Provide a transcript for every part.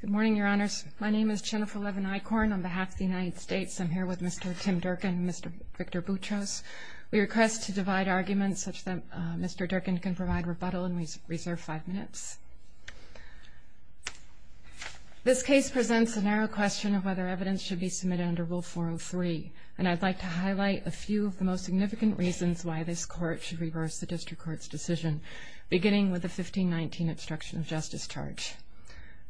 Good morning, Your Honors. My name is Jennifer Levin-Eikhorn. On behalf of the United States, I'm here with Mr. Tim Durkin and Mr. Victor Boutros. We request to divide arguments such that Mr. Durkin can provide rebuttal and reserve five minutes. This case presents a narrow question of whether evidence should be submitted under Rule 403, and I'd like to highlight a few of the most significant reasons why this Court should reverse the District Court's decision, beginning with the 1519 obstruction of justice charge.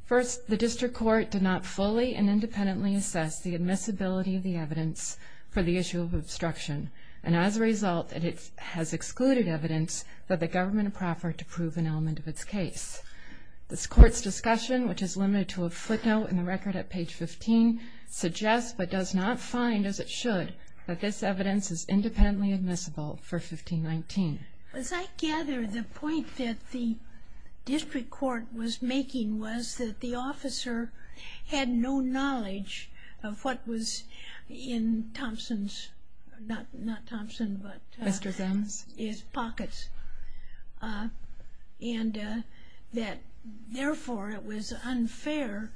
First, the District Court did not fully and independently assess the admissibility of the evidence for the issue of obstruction, and as a result, it has excluded evidence that the government proffered to prove an element of its case. This Court's discussion, which is limited to a footnote in the record at page 15, suggests but does not find, as it should, that this evidence is independently admissible for 1519. As I gather, the point that the District Court was making was that the officer had no knowledge of what was in Thompson's, not Thompson, but his pockets, and that, therefore, it was unfair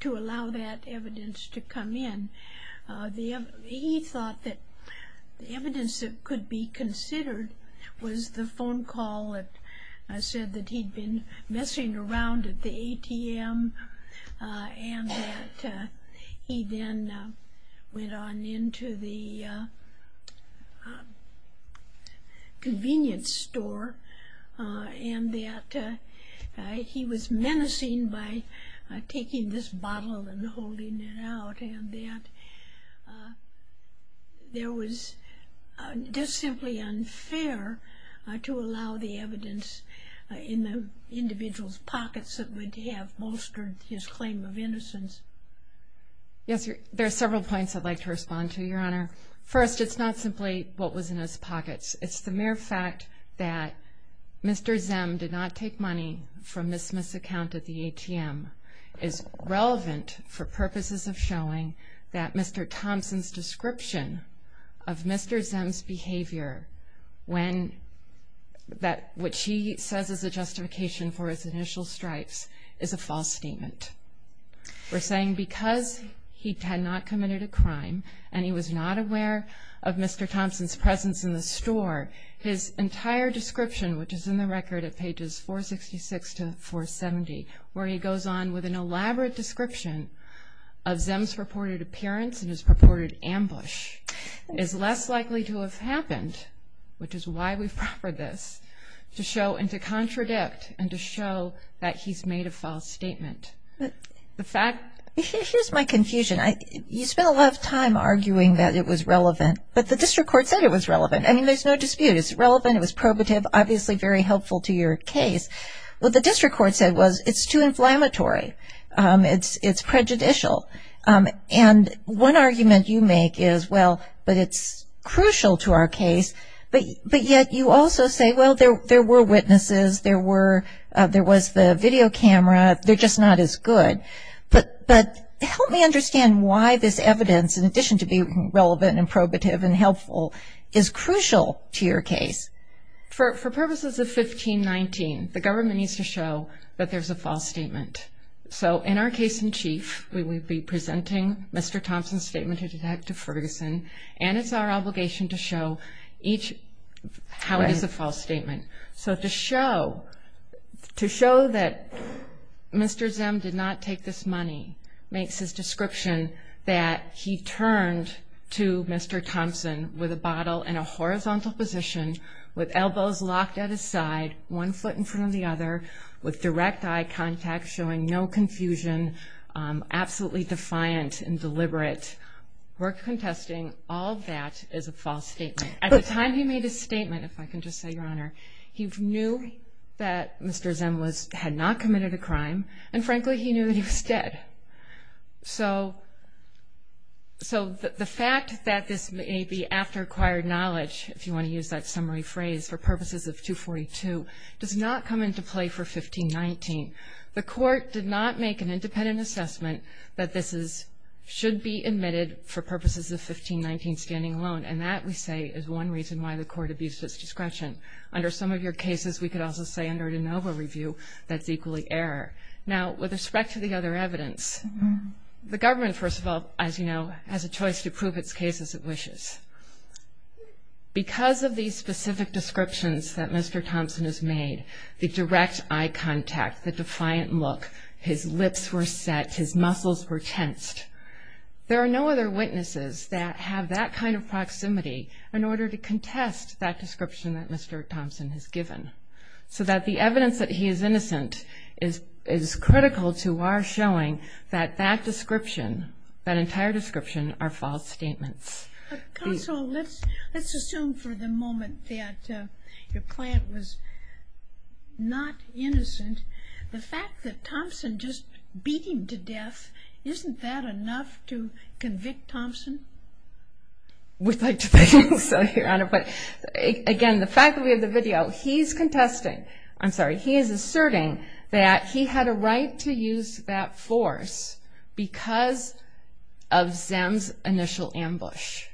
to allow that evidence to come in. He thought that the evidence that could be considered was the phone call that said that he'd been messing around at the ATM, and that he then went on into the convenience store, and that he was menacing by taking this bottle and holding it out, and that it was just simply unfair to allow the evidence in the individual's pockets that would have bolstered his claim of innocence. Yes, there are several points I'd like to respond to, Your Honor. First, it's not simply what was in his pockets. It's the mere fact that Mr. Zem did not take money from Ms. Smith's account at the ATM is relevant for purposes of showing that Mr. Thompson's description of Mr. Zem's behavior, when what she says is a justification for his initial stripes, is a false statement. We're saying because he had not committed a crime, and he was not aware of Mr. Thompson's presence in the store, his entire description, which is in the record at pages 466 to 470, where he goes on with an elaborate description of Zem's purported appearance and his purported ambush, is less likely to have happened, which is why we've proffered this, to show and to contradict and to show that he's made a false statement. Here's my confusion. You spent a lot of time arguing that it was relevant, but the district court said it was relevant. I mean, there's no dispute. It's relevant. It was probative, obviously very helpful to your case. What the district court said was it's too inflammatory. It's prejudicial. And one argument you make is, well, but it's crucial to our case. But yet you also say, well, there were witnesses. There was the video camera. They're just not as good. But help me understand why this evidence, in addition to being relevant and probative and helpful, is crucial to your case. For purposes of 1519, the government needs to show that there's a false statement. So in our case in chief, we will be presenting Mr. Thompson's statement to Detective Ferguson, and it's our obligation to show how it is a false statement. So to show that Mr. Zim did not take this money makes his description that he turned to Mr. Thompson with a bottle in a horizontal position with elbows locked at his side, one foot in front of the other, with direct eye contact showing no confusion, absolutely defiant and deliberate. We're contesting all that is a false statement. At the time he made his statement, if I can just say, Your Honor, he knew that Mr. Zim had not committed a crime, and, frankly, he knew that he was dead. So the fact that this may be after acquired knowledge, if you want to use that summary phrase, for purposes of 242, does not come into play for 1519. The court did not make an independent assessment that this should be admitted for purposes of 1519 standing alone, and that, we say, is one reason why the court abused its discretion. Under some of your cases, we could also say under de novo review, that's equally error. Now, with respect to the other evidence, the government, first of all, as you know, has a choice to prove its case as it wishes. Because of these specific descriptions that Mr. Thompson has made, the direct eye contact, the defiant look, his lips were set, his muscles were tensed, there are no other witnesses that have that kind of proximity in order to contest that description that Mr. Thompson has given, so that the evidence that he is innocent is critical to our showing that that description, that entire description, are false statements. Counsel, let's assume for the moment that your client was not innocent. The fact that Thompson just beat him to death, isn't that enough to convict Thompson? We'd like to think so, Your Honor. But, again, the fact that we have the video, he's contesting, I'm sorry, but he is asserting that he had a right to use that force because of Zem's initial ambush.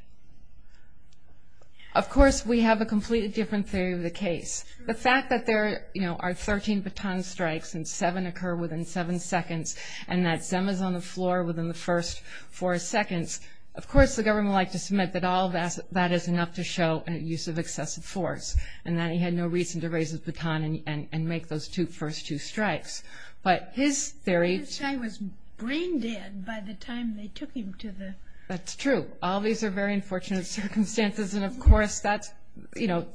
Of course, we have a completely different theory of the case. The fact that there are 13 baton strikes and seven occur within seven seconds, and that Zem is on the floor within the first four seconds, of course the government would like to submit that all of that is enough to show a use of excessive force, and that he had no reason to raise his baton and make those first two strikes. But his theory... His guy was brain dead by the time they took him to the... That's true. All these are very unfortunate circumstances, and, of course, that's, you know,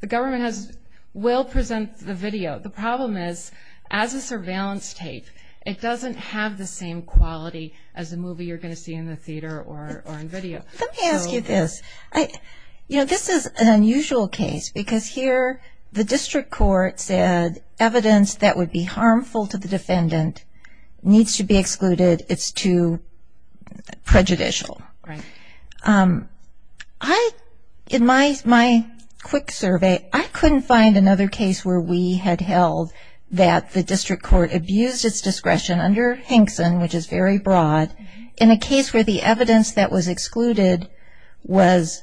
the government will present the video. The problem is, as a surveillance tape, it doesn't have the same quality as a movie you're going to see in the theater or in video. Let me ask you this. You know, this is an unusual case because here the district court said evidence that would be harmful to the defendant needs to be excluded. It's too prejudicial. Right. In my quick survey, I couldn't find another case where we had held that the district court abused its discretion under Hinkson, which is very broad, in a case where the evidence that was excluded was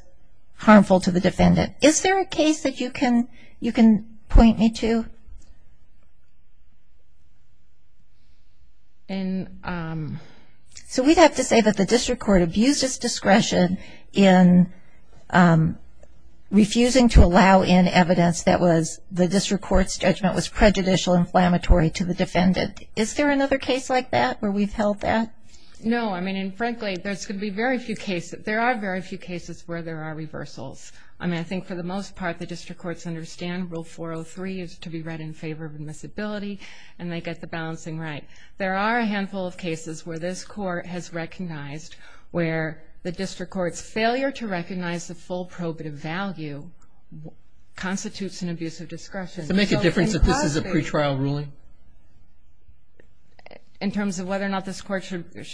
harmful to the defendant. Is there a case that you can point me to? So we'd have to say that the district court abused its discretion in refusing to allow in evidence that the district court's judgment was prejudicial, inflammatory to the defendant. Is there another case like that where we've held that? No. I mean, frankly, there's going to be very few cases. There are very few cases where there are reversals. I mean, I think for the most part the district courts understand Rule 403 is to be read in favor of admissibility, and they get the balancing right. There are a handful of cases where this court has recognized where the district court's failure to recognize the full probative value constitutes an abuse of discretion. Does it make a difference if this is a pretrial ruling? In terms of whether or not this court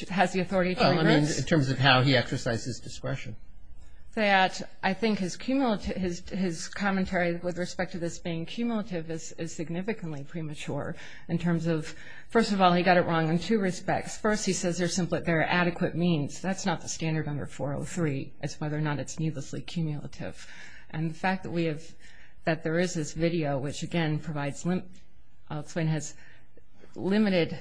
has the authority to regress? In terms of how he exercises discretion. I think his commentary with respect to this being cumulative is significantly premature in terms of, first of all, he got it wrong in two respects. First, he says they're adequate means. That's not the standard under 403 is whether or not it's needlessly cumulative. And the fact that we have, that there is this video, which, again, provides limited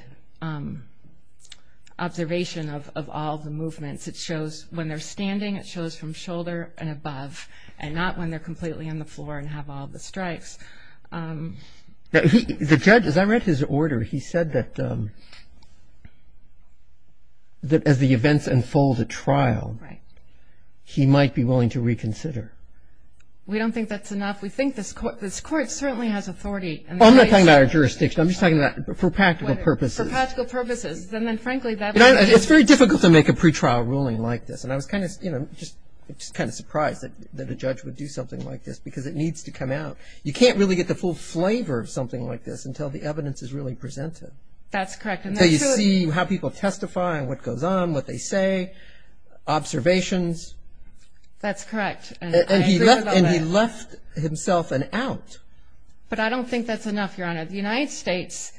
observation of all the movements. It shows when they're standing, it shows from shoulder and above, and not when they're completely on the floor and have all the strikes. The judge, as I read his order, he said that as the events unfold at trial, he might be willing to reconsider. We don't think that's enough. We think this court certainly has authority. I'm not talking about our jurisdiction. I'm just talking about for practical purposes. For practical purposes. It's very difficult to make a pretrial ruling like this. And I was kind of surprised that a judge would do something like this because it needs to come out. You can't really get the full flavor of something like this until the evidence is really presented. That's correct. So you see how people testify and what goes on, what they say, observations. That's correct. And he left himself an out. But I don't think that's enough, Your Honor. The United States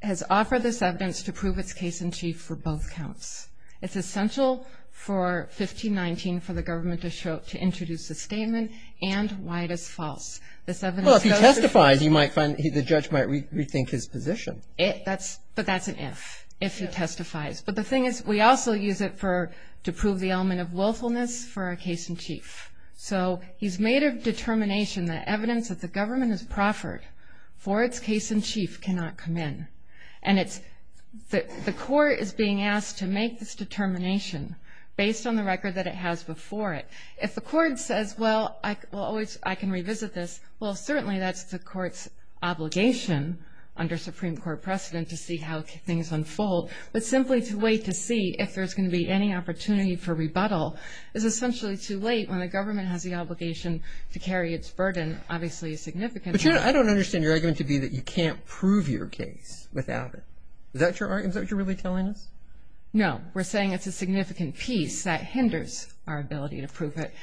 has offered this evidence to prove its case in chief for both counts. It's essential for 1519 for the government to introduce a statement and why it is false. Well, if he testifies, the judge might rethink his position. But that's an if, if he testifies. But the thing is, we also use it to prove the element of willfulness for a case in chief. So he's made a determination that evidence that the government has proffered for its case in chief cannot come in. And the court is being asked to make this determination based on the record that it has before it. If the court says, well, I can revisit this, Well, certainly that's the court's obligation under Supreme Court precedent to see how things unfold. But simply to wait to see if there's going to be any opportunity for rebuttal is essentially too late when the government has the obligation to carry its burden, obviously a significant one. But, Your Honor, I don't understand your argument to be that you can't prove your case without it. Is that your argument? Is that what you're really telling us? No. We're saying it's a significant piece that hinders our ability to prove it.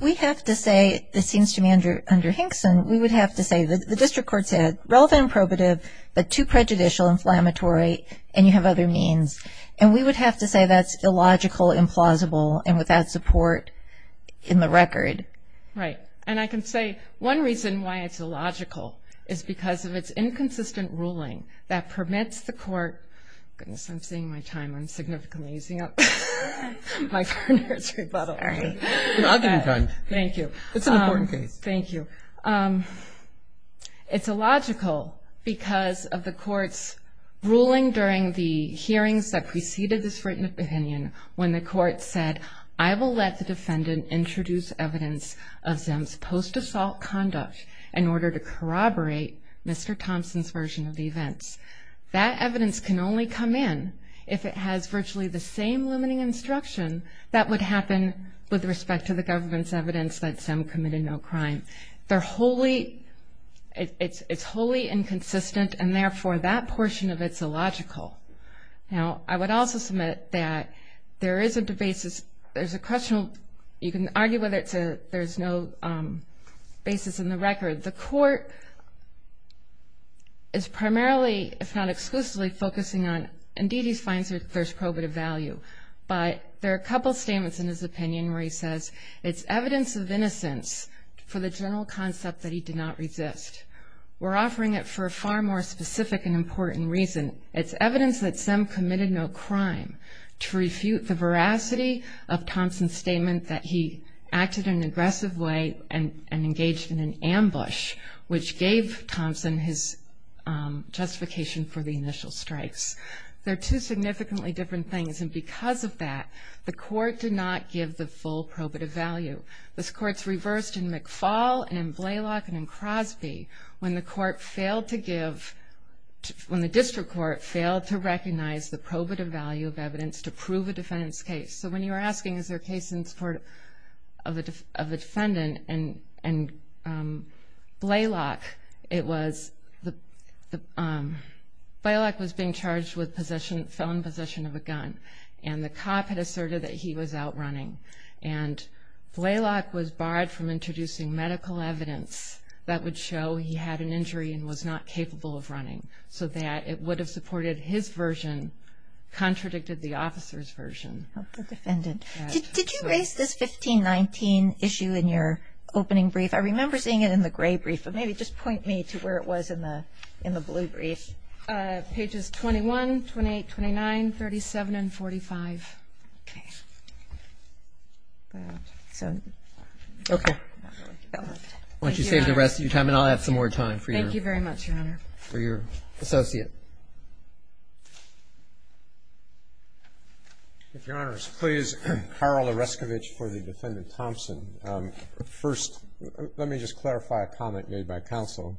We have to say, this seems to me under Hinkson, we would have to say the district court said relevant and probative, but too prejudicial, inflammatory, and you have other means. And we would have to say that's illogical, implausible, and without support in the record. Right. And I can say one reason why it's illogical is because of its inconsistent ruling that permits the court Goodness, I'm seeing my time. I'm significantly using up my four minutes rebuttal. I'll give you time. Thank you. It's an important case. Thank you. It's illogical because of the court's ruling during the hearings that preceded this written opinion when the court said, I will let the defendant introduce evidence of Zim's post-assault conduct in order to corroborate Mr. Thompson's version of the events. That evidence can only come in if it has virtually the same limiting instruction that would happen with respect to the government's evidence that Zim committed no crime. They're wholly, it's wholly inconsistent, and therefore that portion of it's illogical. Now, I would also submit that there isn't a basis, there's a question, you can argue whether there's no basis in the record. The court is primarily, if not exclusively, focusing on, indeed he finds that there's probative value, but there are a couple of statements in his opinion where he says, it's evidence of innocence for the general concept that he did not resist. We're offering it for a far more specific and important reason. It's evidence that Zim committed no crime to refute the veracity of Thompson's statement that he acted in an aggressive way and engaged in an ambush, which gave Thompson his justification for the initial strikes. They're two significantly different things, and because of that, the court did not give the full probative value. This court's reversed in McFall and in Blalock and in Crosby when the court failed to give, when the district court failed to recognize the probative value of evidence to prove a defendant's case. So when you were asking is there a case in this court of a defendant and Blalock, Blalock was being charged with possession, felon possession of a gun, and the cop had asserted that he was out running. And Blalock was barred from introducing medical evidence that would show he had an injury and was not capable of running so that it would have supported his version, contradicted the officer's version. Did you raise this 1519 issue in your opening brief? I remember seeing it in the gray brief, but maybe just point me to where it was in the blue brief. Pages 21, 28, 29, 37, and 45. Okay. Why don't you save the rest of your time and I'll have some more time for you. Thank you very much, Your Honor. For your associate. If Your Honors, please, Carl Oreskevich for the defendant Thompson. First, let me just clarify a comment made by counsel.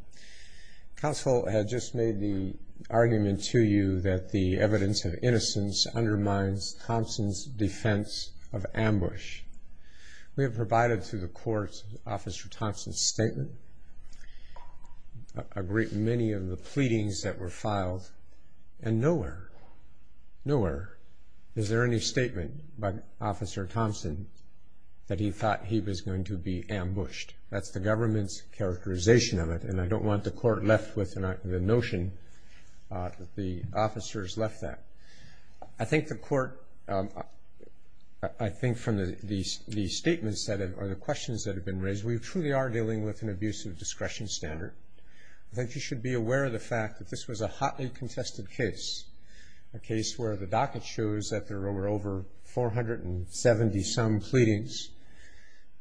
Counsel had just made the argument to you that the evidence of innocence undermines Thompson's defense of ambush. We have provided to the court Officer Thompson's statement, a great many of the pleadings that were filed, and nowhere, nowhere is there any statement by Officer Thompson that he thought he was going to be ambushed. That's the government's characterization of it, and I don't want the court left with the notion that the officers left that. I think the court, I think from the statements or the questions that have been raised, we truly are dealing with an abusive discretion standard. I think you should be aware of the fact that this was a hotly contested case, a case where the docket shows that there were over 470-some pleadings.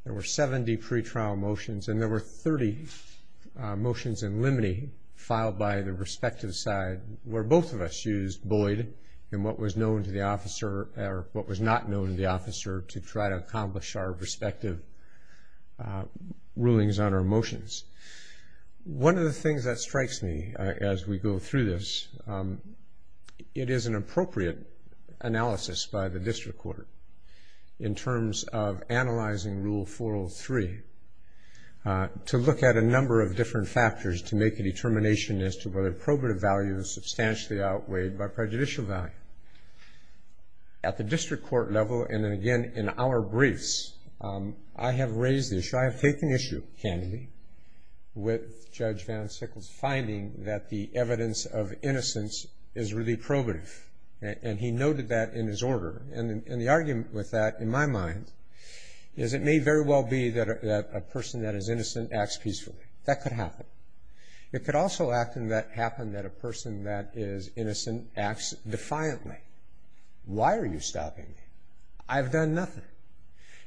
There were 70 pretrial motions, and there were 30 motions in limine filed by the respective side where both of us used Boyd and what was known to the officer, or what was not known to the officer to try to accomplish our respective rulings on our motions. One of the things that strikes me as we go through this, it is an appropriate analysis by the district court in terms of analyzing Rule 403 to look at a number of different factors to make a determination as to whether probative value is substantially outweighed by prejudicial value. At the district court level, and then again in our briefs, I have raised this. I have taken issue, candidly, with Judge Van Sickles' finding that the evidence of innocence is really probative, and he noted that in his order. And the argument with that, in my mind, is it may very well be that a person that is innocent acts peacefully. That could happen. It could also happen that a person that is innocent acts defiantly. Why are you stopping me? I've done nothing.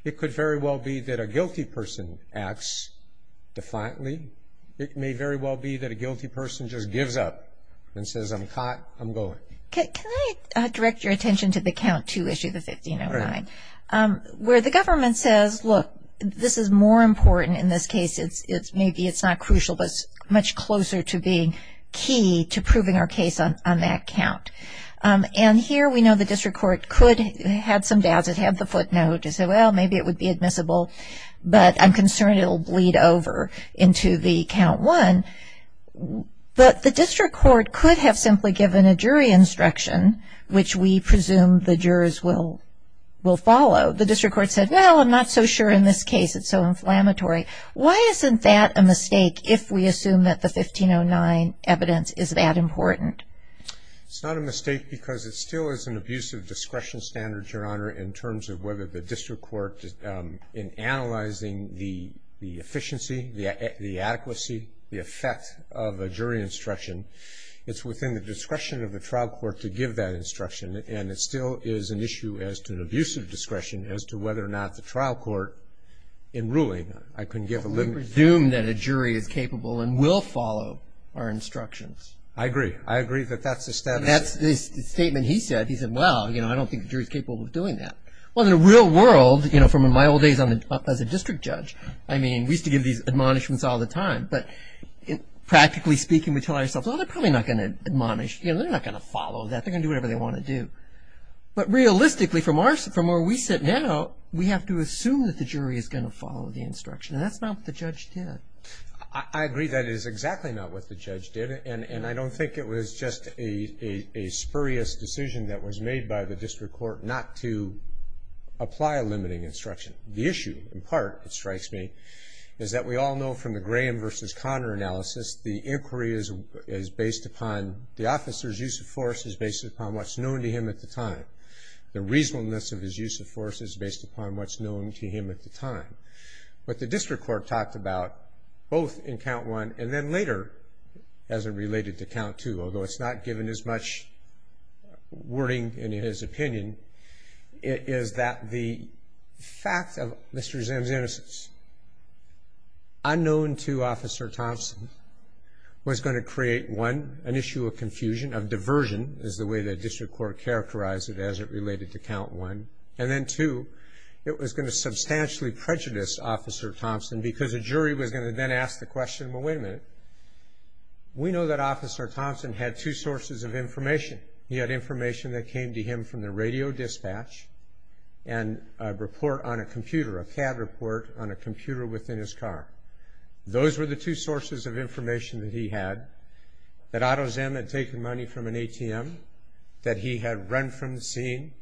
It could very well be that a guilty person acts defiantly. It may very well be that a guilty person just gives up and says, I'm caught, I'm going. Can I direct your attention to the Count 2, Issue 1509, where the government says, look, this is more important in this case. Maybe it's not crucial, but it's much closer to being key to proving our case on that count. And here we know the district court could have some doubts. It had the footnote. It said, well, maybe it would be admissible, but I'm concerned it will bleed over into the Count 1. But the district court could have simply given a jury instruction, which we presume the jurors will follow. The district court said, well, I'm not so sure in this case. It's so inflammatory. Why isn't that a mistake if we assume that the 1509 evidence is that important? It's not a mistake because it still is an abuse of discretion standards, Your Honor, in terms of whether the district court, in analyzing the efficiency, the adequacy, the effect of a jury instruction, it's within the discretion of the trial court to give that instruction. And it still is an issue as to an abuse of discretion as to whether or not the trial court, in ruling, I can give a limit. So we presume that a jury is capable and will follow our instructions. I agree. I agree that that's the status. That's the statement he said. He said, well, you know, I don't think the jury is capable of doing that. Well, in the real world, you know, from my old days as a district judge, I mean, we used to give these admonishments all the time. But practically speaking, we tell ourselves, oh, they're probably not going to admonish. You know, they're not going to follow that. They're going to do whatever they want to do. But realistically, from where we sit now, we have to assume that the jury is going to follow the instruction. And that's not what the judge did. I agree that it is exactly not what the judge did. And I don't think it was just a spurious decision that was made by the district court not to apply a limiting instruction. The issue, in part, it strikes me, is that we all know from the Graham v. Conner analysis, the inquiry is based upon the officer's use of force is based upon what's known to him at the time. The reasonableness of his use of force is based upon what's known to him at the time. What the district court talked about, both in count one and then later as it related to count two, although it's not given as much wording in his opinion, is that the fact of Mr. Zim's innocence, unknown to Officer Thompson, was going to create, one, an issue of confusion, of diversion, is the way the district court characterized it as it related to count one. And then, two, it was going to substantially prejudice Officer Thompson because a jury was going to then ask the question, well, wait a minute, we know that Officer Thompson had two sources of information. He had information that came to him from the radio dispatch and a report on a computer, a CAD report on a computer within his car. Those were the two sources of information that he had, that Otto Zim had taken money from an ATM, that he had run from the scene,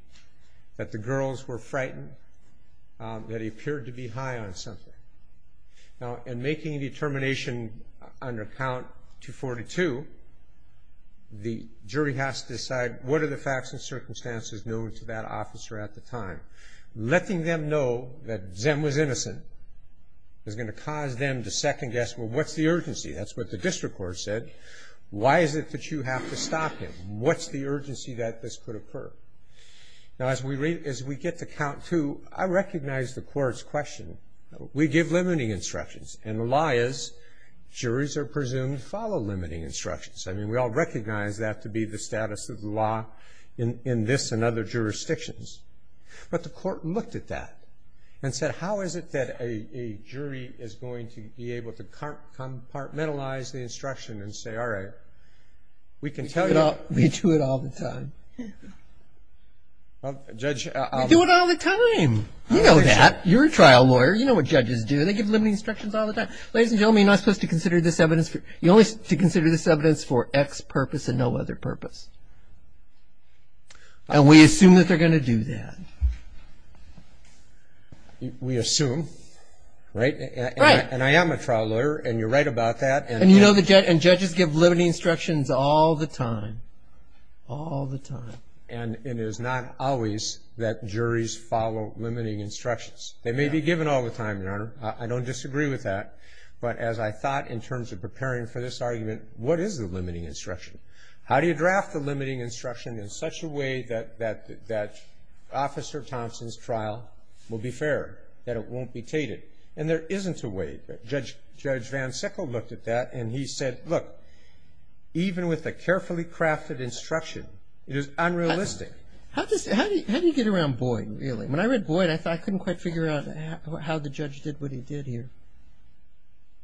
that the girls were frightened, that he appeared to be high on something. Now, in making a determination under count 242, the jury has to decide what are the facts and circumstances known to that officer at the time. Letting them know that Zim was innocent is going to cause them to second guess, well, what's the urgency? That's what the district court said. Why is it that you have to stop him? What's the urgency that this could occur? Now, as we get to count two, I recognize the court's question. We give limiting instructions. And the lie is, juries are presumed to follow limiting instructions. I mean, we all recognize that to be the status of the law in this and other jurisdictions. But the court looked at that and said, how is it that a jury is going to be able to compartmentalize the instruction and say, all right, we can tell you. We do it all the time. Judge. We do it all the time. You know that. You're a trial lawyer. You know what judges do. They give limiting instructions all the time. Ladies and gentlemen, you're not supposed to consider this evidence for X purpose and no other purpose. And we assume that they're going to do that. We assume, right? Right. And I am a trial lawyer, and you're right about that. And judges give limiting instructions all the time, all the time. And it is not always that juries follow limiting instructions. They may be given all the time, Your Honor. I don't disagree with that. But as I thought in terms of preparing for this argument, what is the limiting instruction? How do you draft the limiting instruction in such a way that Officer Thompson's trial will be fair, that it won't be tainted? And there isn't a way. Judge Van Sickle looked at that, and he said, look, even with a carefully crafted instruction, it is unrealistic. How do you get around Boyd, really? When I read Boyd, I couldn't quite figure out how the judge did what he did here.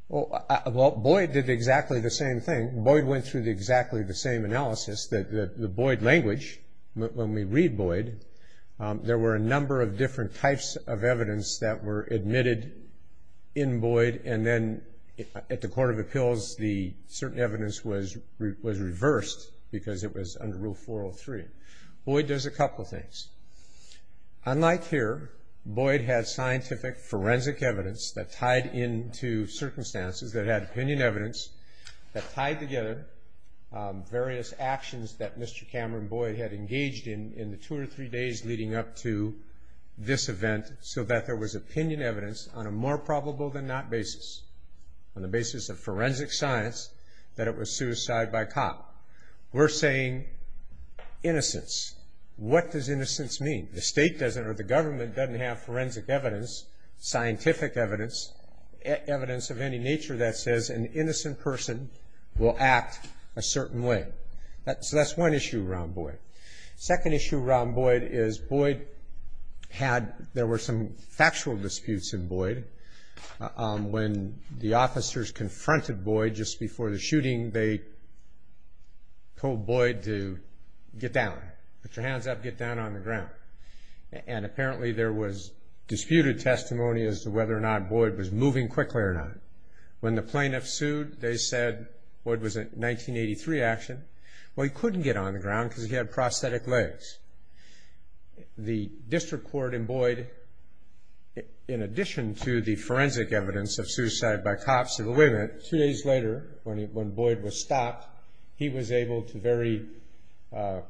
Well, Boyd did exactly the same thing. Boyd went through exactly the same analysis. The Boyd language, when we read Boyd, there were a number of different types of evidence that were admitted in Boyd, and then at the Court of Appeals, the certain evidence was reversed because it was under Rule 403. Boyd does a couple of things. Unlike here, Boyd has scientific forensic evidence that tied into circumstances that had opinion evidence that tied together various actions that Mr. Cameron Boyd had engaged in in the two or three days leading up to this event so that there was opinion evidence on a more probable than not basis, on the basis of forensic science, that it was suicide by cop. We're saying innocence. What does innocence mean? The state doesn't or the government doesn't have forensic evidence, scientific evidence, evidence of any nature that says an innocent person will act a certain way. So that's one issue around Boyd. Second issue around Boyd is Boyd had, there were some factual disputes in Boyd. When the officers confronted Boyd just before the shooting, they told Boyd to get down. Put your hands up, get down on the ground. And apparently there was disputed testimony as to whether or not Boyd was moving quickly or not. When the plaintiffs sued, they said Boyd was a 1983 action. Well, he couldn't get on the ground because he had prosthetic legs. The district court in Boyd, in addition to the forensic evidence of suicide by cop, said, wait a minute, two days later when Boyd was stopped, he was able to very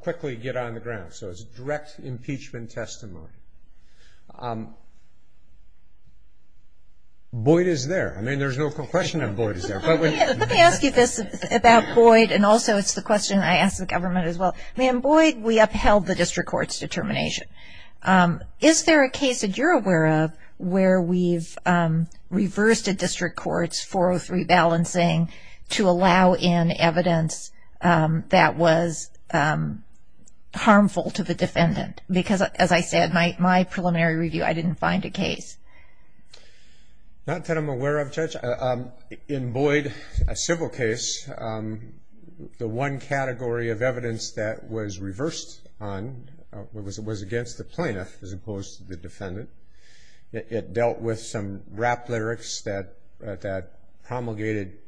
quickly get on the ground. So it's direct impeachment testimony. Boyd is there. I mean, there's no question that Boyd is there. Let me ask you this about Boyd, and also it's the question I ask the government as well. In Boyd, we upheld the district court's determination. Is there a case that you're aware of where we've reversed a district court's 403 balancing to allow in evidence that was harmful to the defendant? Because, as I said, my preliminary review, I didn't find a case. Not that I'm aware of, Judge. In Boyd, a civil case, the one category of evidence that was reversed on was against the plaintiff as opposed to the defendant. It dealt with some rap lyrics that promulgated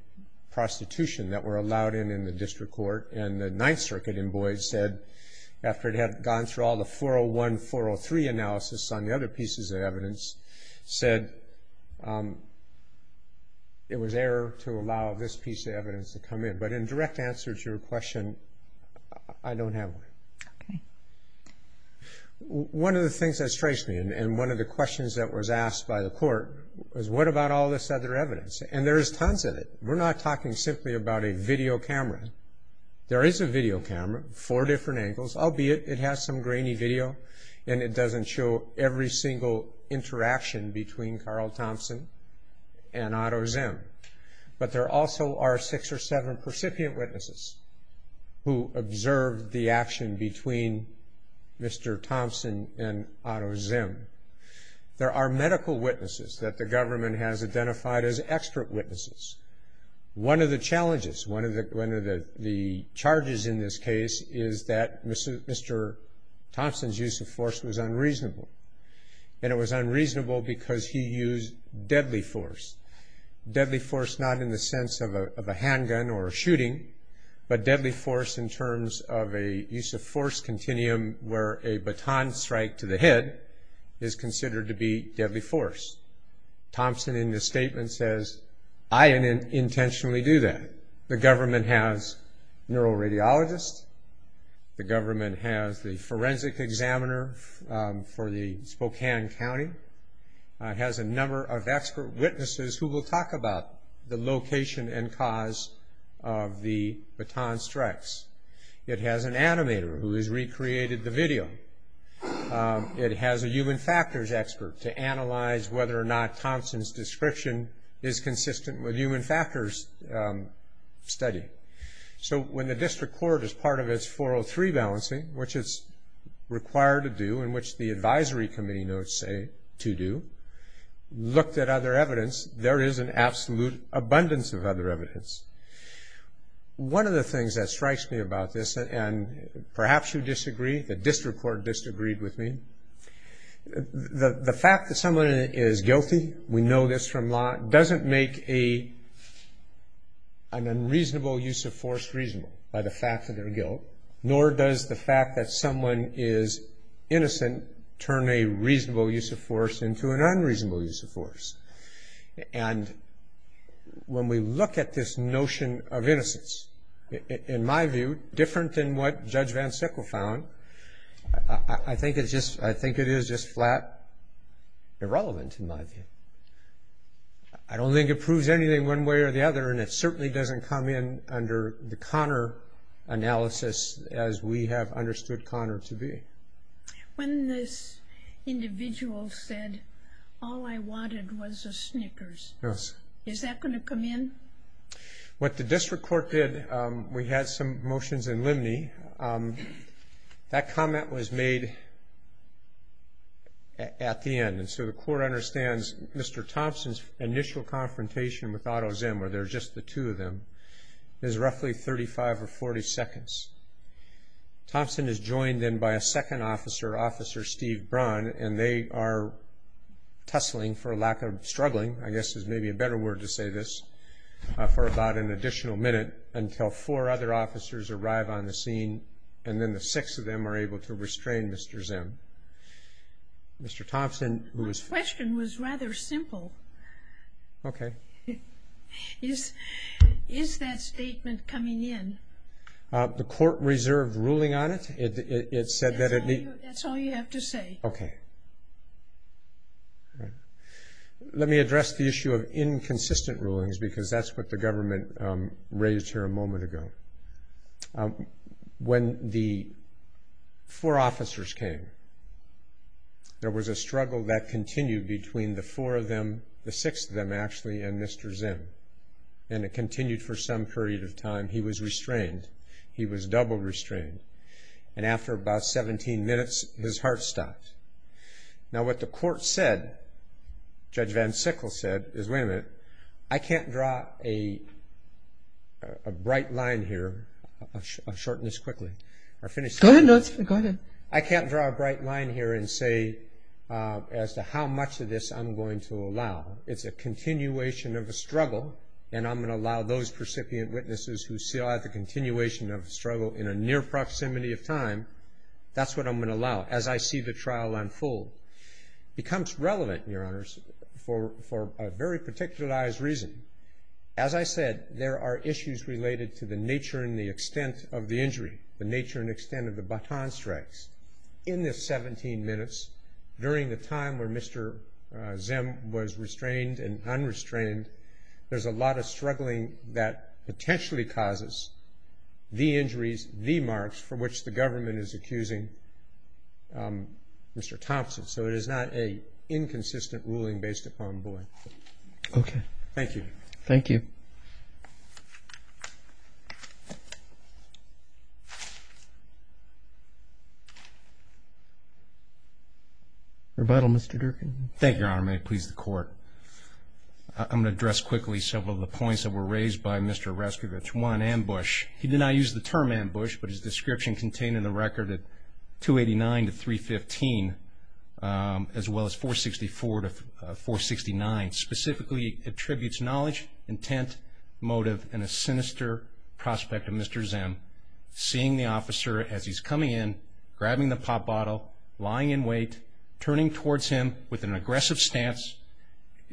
prostitution that were allowed in in the district court. And the Ninth Circuit in Boyd said, after it had gone through all the 401, 403 analysis on the other pieces of evidence, said it was error to allow this piece of evidence to come in. But in direct answer to your question, I don't have one. Okay. One of the things that strikes me, and one of the questions that was asked by the court, was what about all this other evidence? And there is tons of it. We're not talking simply about a video camera. There is a video camera, four different angles, albeit it has some grainy video, and it doesn't show every single interaction between Carl Thompson and Otto Zimm. But there also are six or seven percipient witnesses who observed the action between Mr. Thompson and Otto Zimm. There are medical witnesses that the government has identified as expert witnesses. One of the challenges, one of the charges in this case, is that Mr. Thompson's use of force was unreasonable. And it was unreasonable because he used deadly force. Deadly force not in the sense of a handgun or a shooting, but deadly force in terms of a use of force continuum where a baton strike to the head is considered to be deadly force. Thompson, in his statement, says, I didn't intentionally do that. The government has neuroradiologists. The government has the forensic examiner for the Spokane County. It has a number of expert witnesses who will talk about the location and cause of the baton strikes. It has an animator who has recreated the video. It has a human factors expert to analyze whether or not Thompson's description is consistent with human factors study. So when the district court is part of its 403 balancing, which it's required to do and which the advisory committee notes say to do, looked at other evidence, there is an absolute abundance of other evidence. One of the things that strikes me about this, and perhaps you disagree, the district court disagreed with me, the fact that someone is guilty, we know this from law, doesn't make an unreasonable use of force reasonable by the fact that they're guilty, nor does the fact that someone is innocent turn a reasonable use of force into an unreasonable use of force. And when we look at this notion of innocence, in my view, different than what Judge Van Sickle found, I think it is just flat irrelevant, in my view. I don't think it proves anything one way or the other, and it certainly doesn't come in under the Connor analysis as we have understood Connor to be. When this individual said, all I wanted was a Snickers, is that going to come in? What the district court did, we had some motions in Limney, that comment was made at the end. And so the court understands Mr. Thompson's initial confrontation with Otto Zim, where there's just the two of them, is roughly 35 or 40 seconds. Thompson is joined then by a second officer, Officer Steve Braun, and they are tussling for a lack of struggling, I guess is maybe a better word to say this, for about an additional minute, until four other officers arrive on the scene, and then the six of them are able to restrain Mr. Zim. My question was rather simple. Okay. Is that statement coming in? The court reserved ruling on it? That's all you have to say. Okay. Let me address the issue of inconsistent rulings, because that's what the government raised here a moment ago. When the four officers came, there was a struggle that continued between the four of them, the six of them actually, and Mr. Zim. And it continued for some period of time. He was restrained. He was double restrained. And after about 17 minutes, his heart stopped. Now what the court said, Judge Van Sickle said, is, wait a minute, I can't draw a bright line here. I'll shorten this quickly. Go ahead. I can't draw a bright line here and say as to how much of this I'm going to allow. It's a continuation of a struggle, and I'm going to allow those percipient witnesses who see the continuation of the struggle in a near proximity of time, that's what I'm going to allow as I see the trial unfold. It becomes relevant, Your Honors, for a very particularized reason. As I said, there are issues related to the nature and the extent of the injury, the nature and extent of the baton strikes. In this 17 minutes, during the time where Mr. Zim was restrained and unrestrained, there's a lot of struggling that potentially causes the injuries, the marks for which the government is accusing Mr. Thompson. So it is not an inconsistent ruling based upon bullying. Okay. Thank you. Thank you. Rebuttal, Mr. Durkin. Thank you, Your Honor. May it please the Court. I'm going to address quickly several of the points that were raised by Mr. Rescovich. One, ambush. He did not use the term ambush, but his description contained in the record at 289 to 315, as well as 464 to 469, specifically attributes knowledge, intent, motive, and a sinister prospect of Mr. Zim. Seeing the officer as he's coming in, grabbing the pop bottle, lying in wait, turning towards him with an aggressive stance,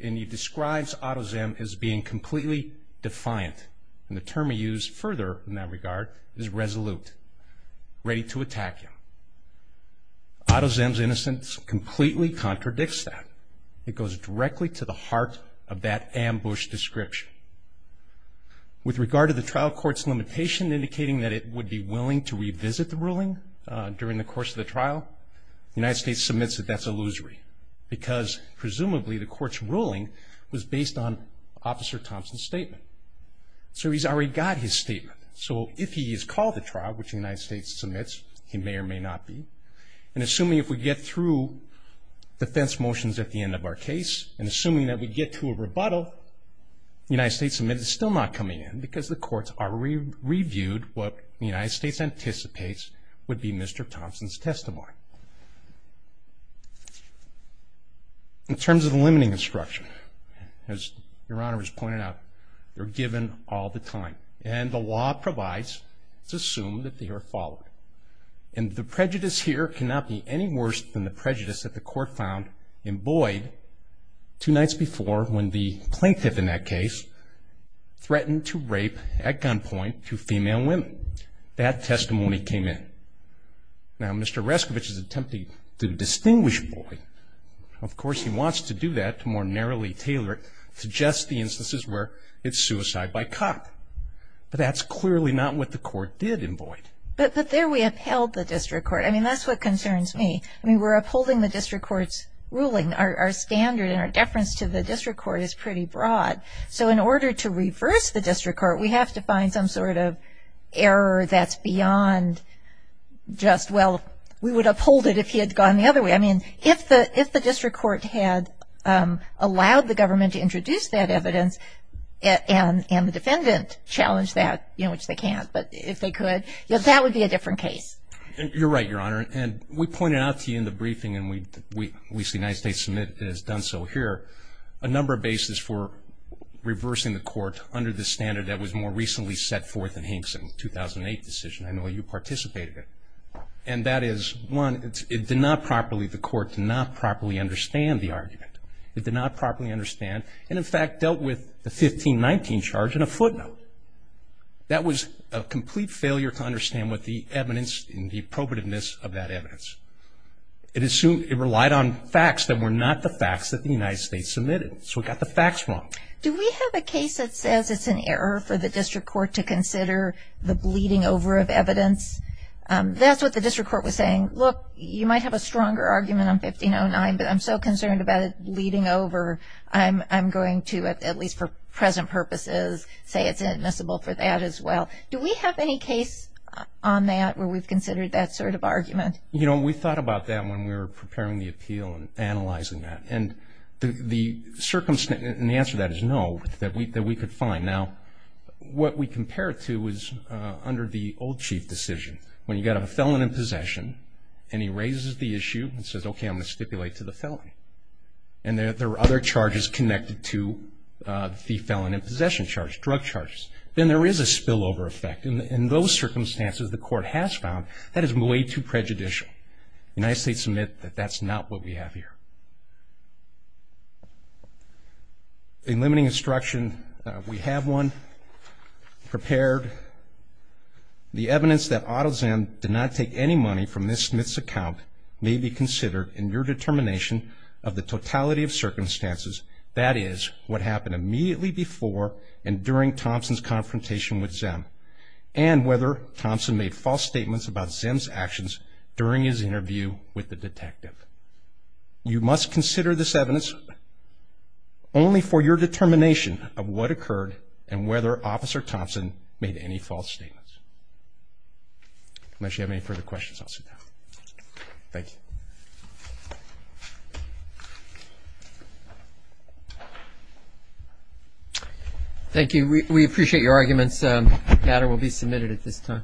and he describes Otto Zim as being completely defiant. And the term he used further in that regard is resolute, ready to attack him. Otto Zim's innocence completely contradicts that. It goes directly to the heart of that ambush description. With regard to the trial court's limitation, indicating that it would be willing to revisit the ruling during the course of the trial, the United States submits that that's illusory, because presumably the court's ruling was based on Officer Thompson's statement. So he's already got his statement. So if he is called to trial, which the United States submits, he may or may not be. And assuming if we get through defense motions at the end of our case, and assuming that we get to a rebuttal, the United States submits it's still not coming in, because the courts already reviewed what the United States anticipates would be Mr. Thompson's testimony. In terms of the limiting instruction, as Your Honor has pointed out, they're given all the time. And the law provides to assume that they are followed. And the prejudice here cannot be any worse than the prejudice that the court found in Boyd two nights before when the plaintiff in that case threatened to rape, at gunpoint, two female women. That testimony came in. Now, Mr. Rescovich is attempting to distinguish Boyd. Of course, he wants to do that to more narrowly tailor it to just the instances where it's suicide by cop. But that's clearly not what the court did in Boyd. But there we upheld the district court. I mean, that's what concerns me. I mean, we're upholding the district court's ruling. Our standard and our deference to the district court is pretty broad. So in order to reverse the district court, we have to find some sort of error that's beyond just, well, we would uphold it if he had gone the other way. I mean, if the district court had allowed the government to introduce that evidence and the defendant challenged that, you know, which they can't, but if they could, that would be a different case. You're right, Your Honor. And we pointed out to you in the briefing, and we see United States Submit has done so here, a number of bases for reversing the court under the standard that was more recently set forth in Hink's 2008 decision. I know you participated in it. And that is, one, it did not properly, the court did not properly understand the argument. It did not properly understand. And, in fact, dealt with the 1519 charge in a footnote. That was a complete failure to understand what the evidence and the appropriateness of that evidence. It relied on facts that were not the facts that the United States submitted. So it got the facts wrong. Do we have a case that says it's an error for the district court to consider the bleeding over of evidence? That's what the district court was saying. Look, you might have a stronger argument on 1509, but I'm so concerned about it bleeding over. I'm going to, at least for present purposes, say it's inadmissible for that as well. Do we have any case on that where we've considered that sort of argument? You know, we thought about that when we were preparing the appeal and analyzing that. And the answer to that is no, that we could find. Now, what we compare it to is under the old chief decision, when you've got a felon in possession and he raises the issue and says, okay, I'm going to stipulate to the felony. And there are other charges connected to the felon in possession charge, drug charges. Then there is a spillover effect. In those circumstances, the court has found that is way too prejudicial. The United States submits that that's not what we have here. In limiting instruction, we have one prepared. The evidence that Autozan did not take any money from Ms. Smith's account may be considered in your determination of the totality of circumstances, that is, what happened immediately before and during Thompson's confrontation with Zim, and whether Thompson made false statements about Zim's actions during his interview with the detective. You must consider this evidence only for your determination of what occurred and whether Officer Thompson made any false statements. Unless you have any further questions, I'll sit down. Thank you. Thank you. We appreciate your arguments. The matter will be submitted at this time.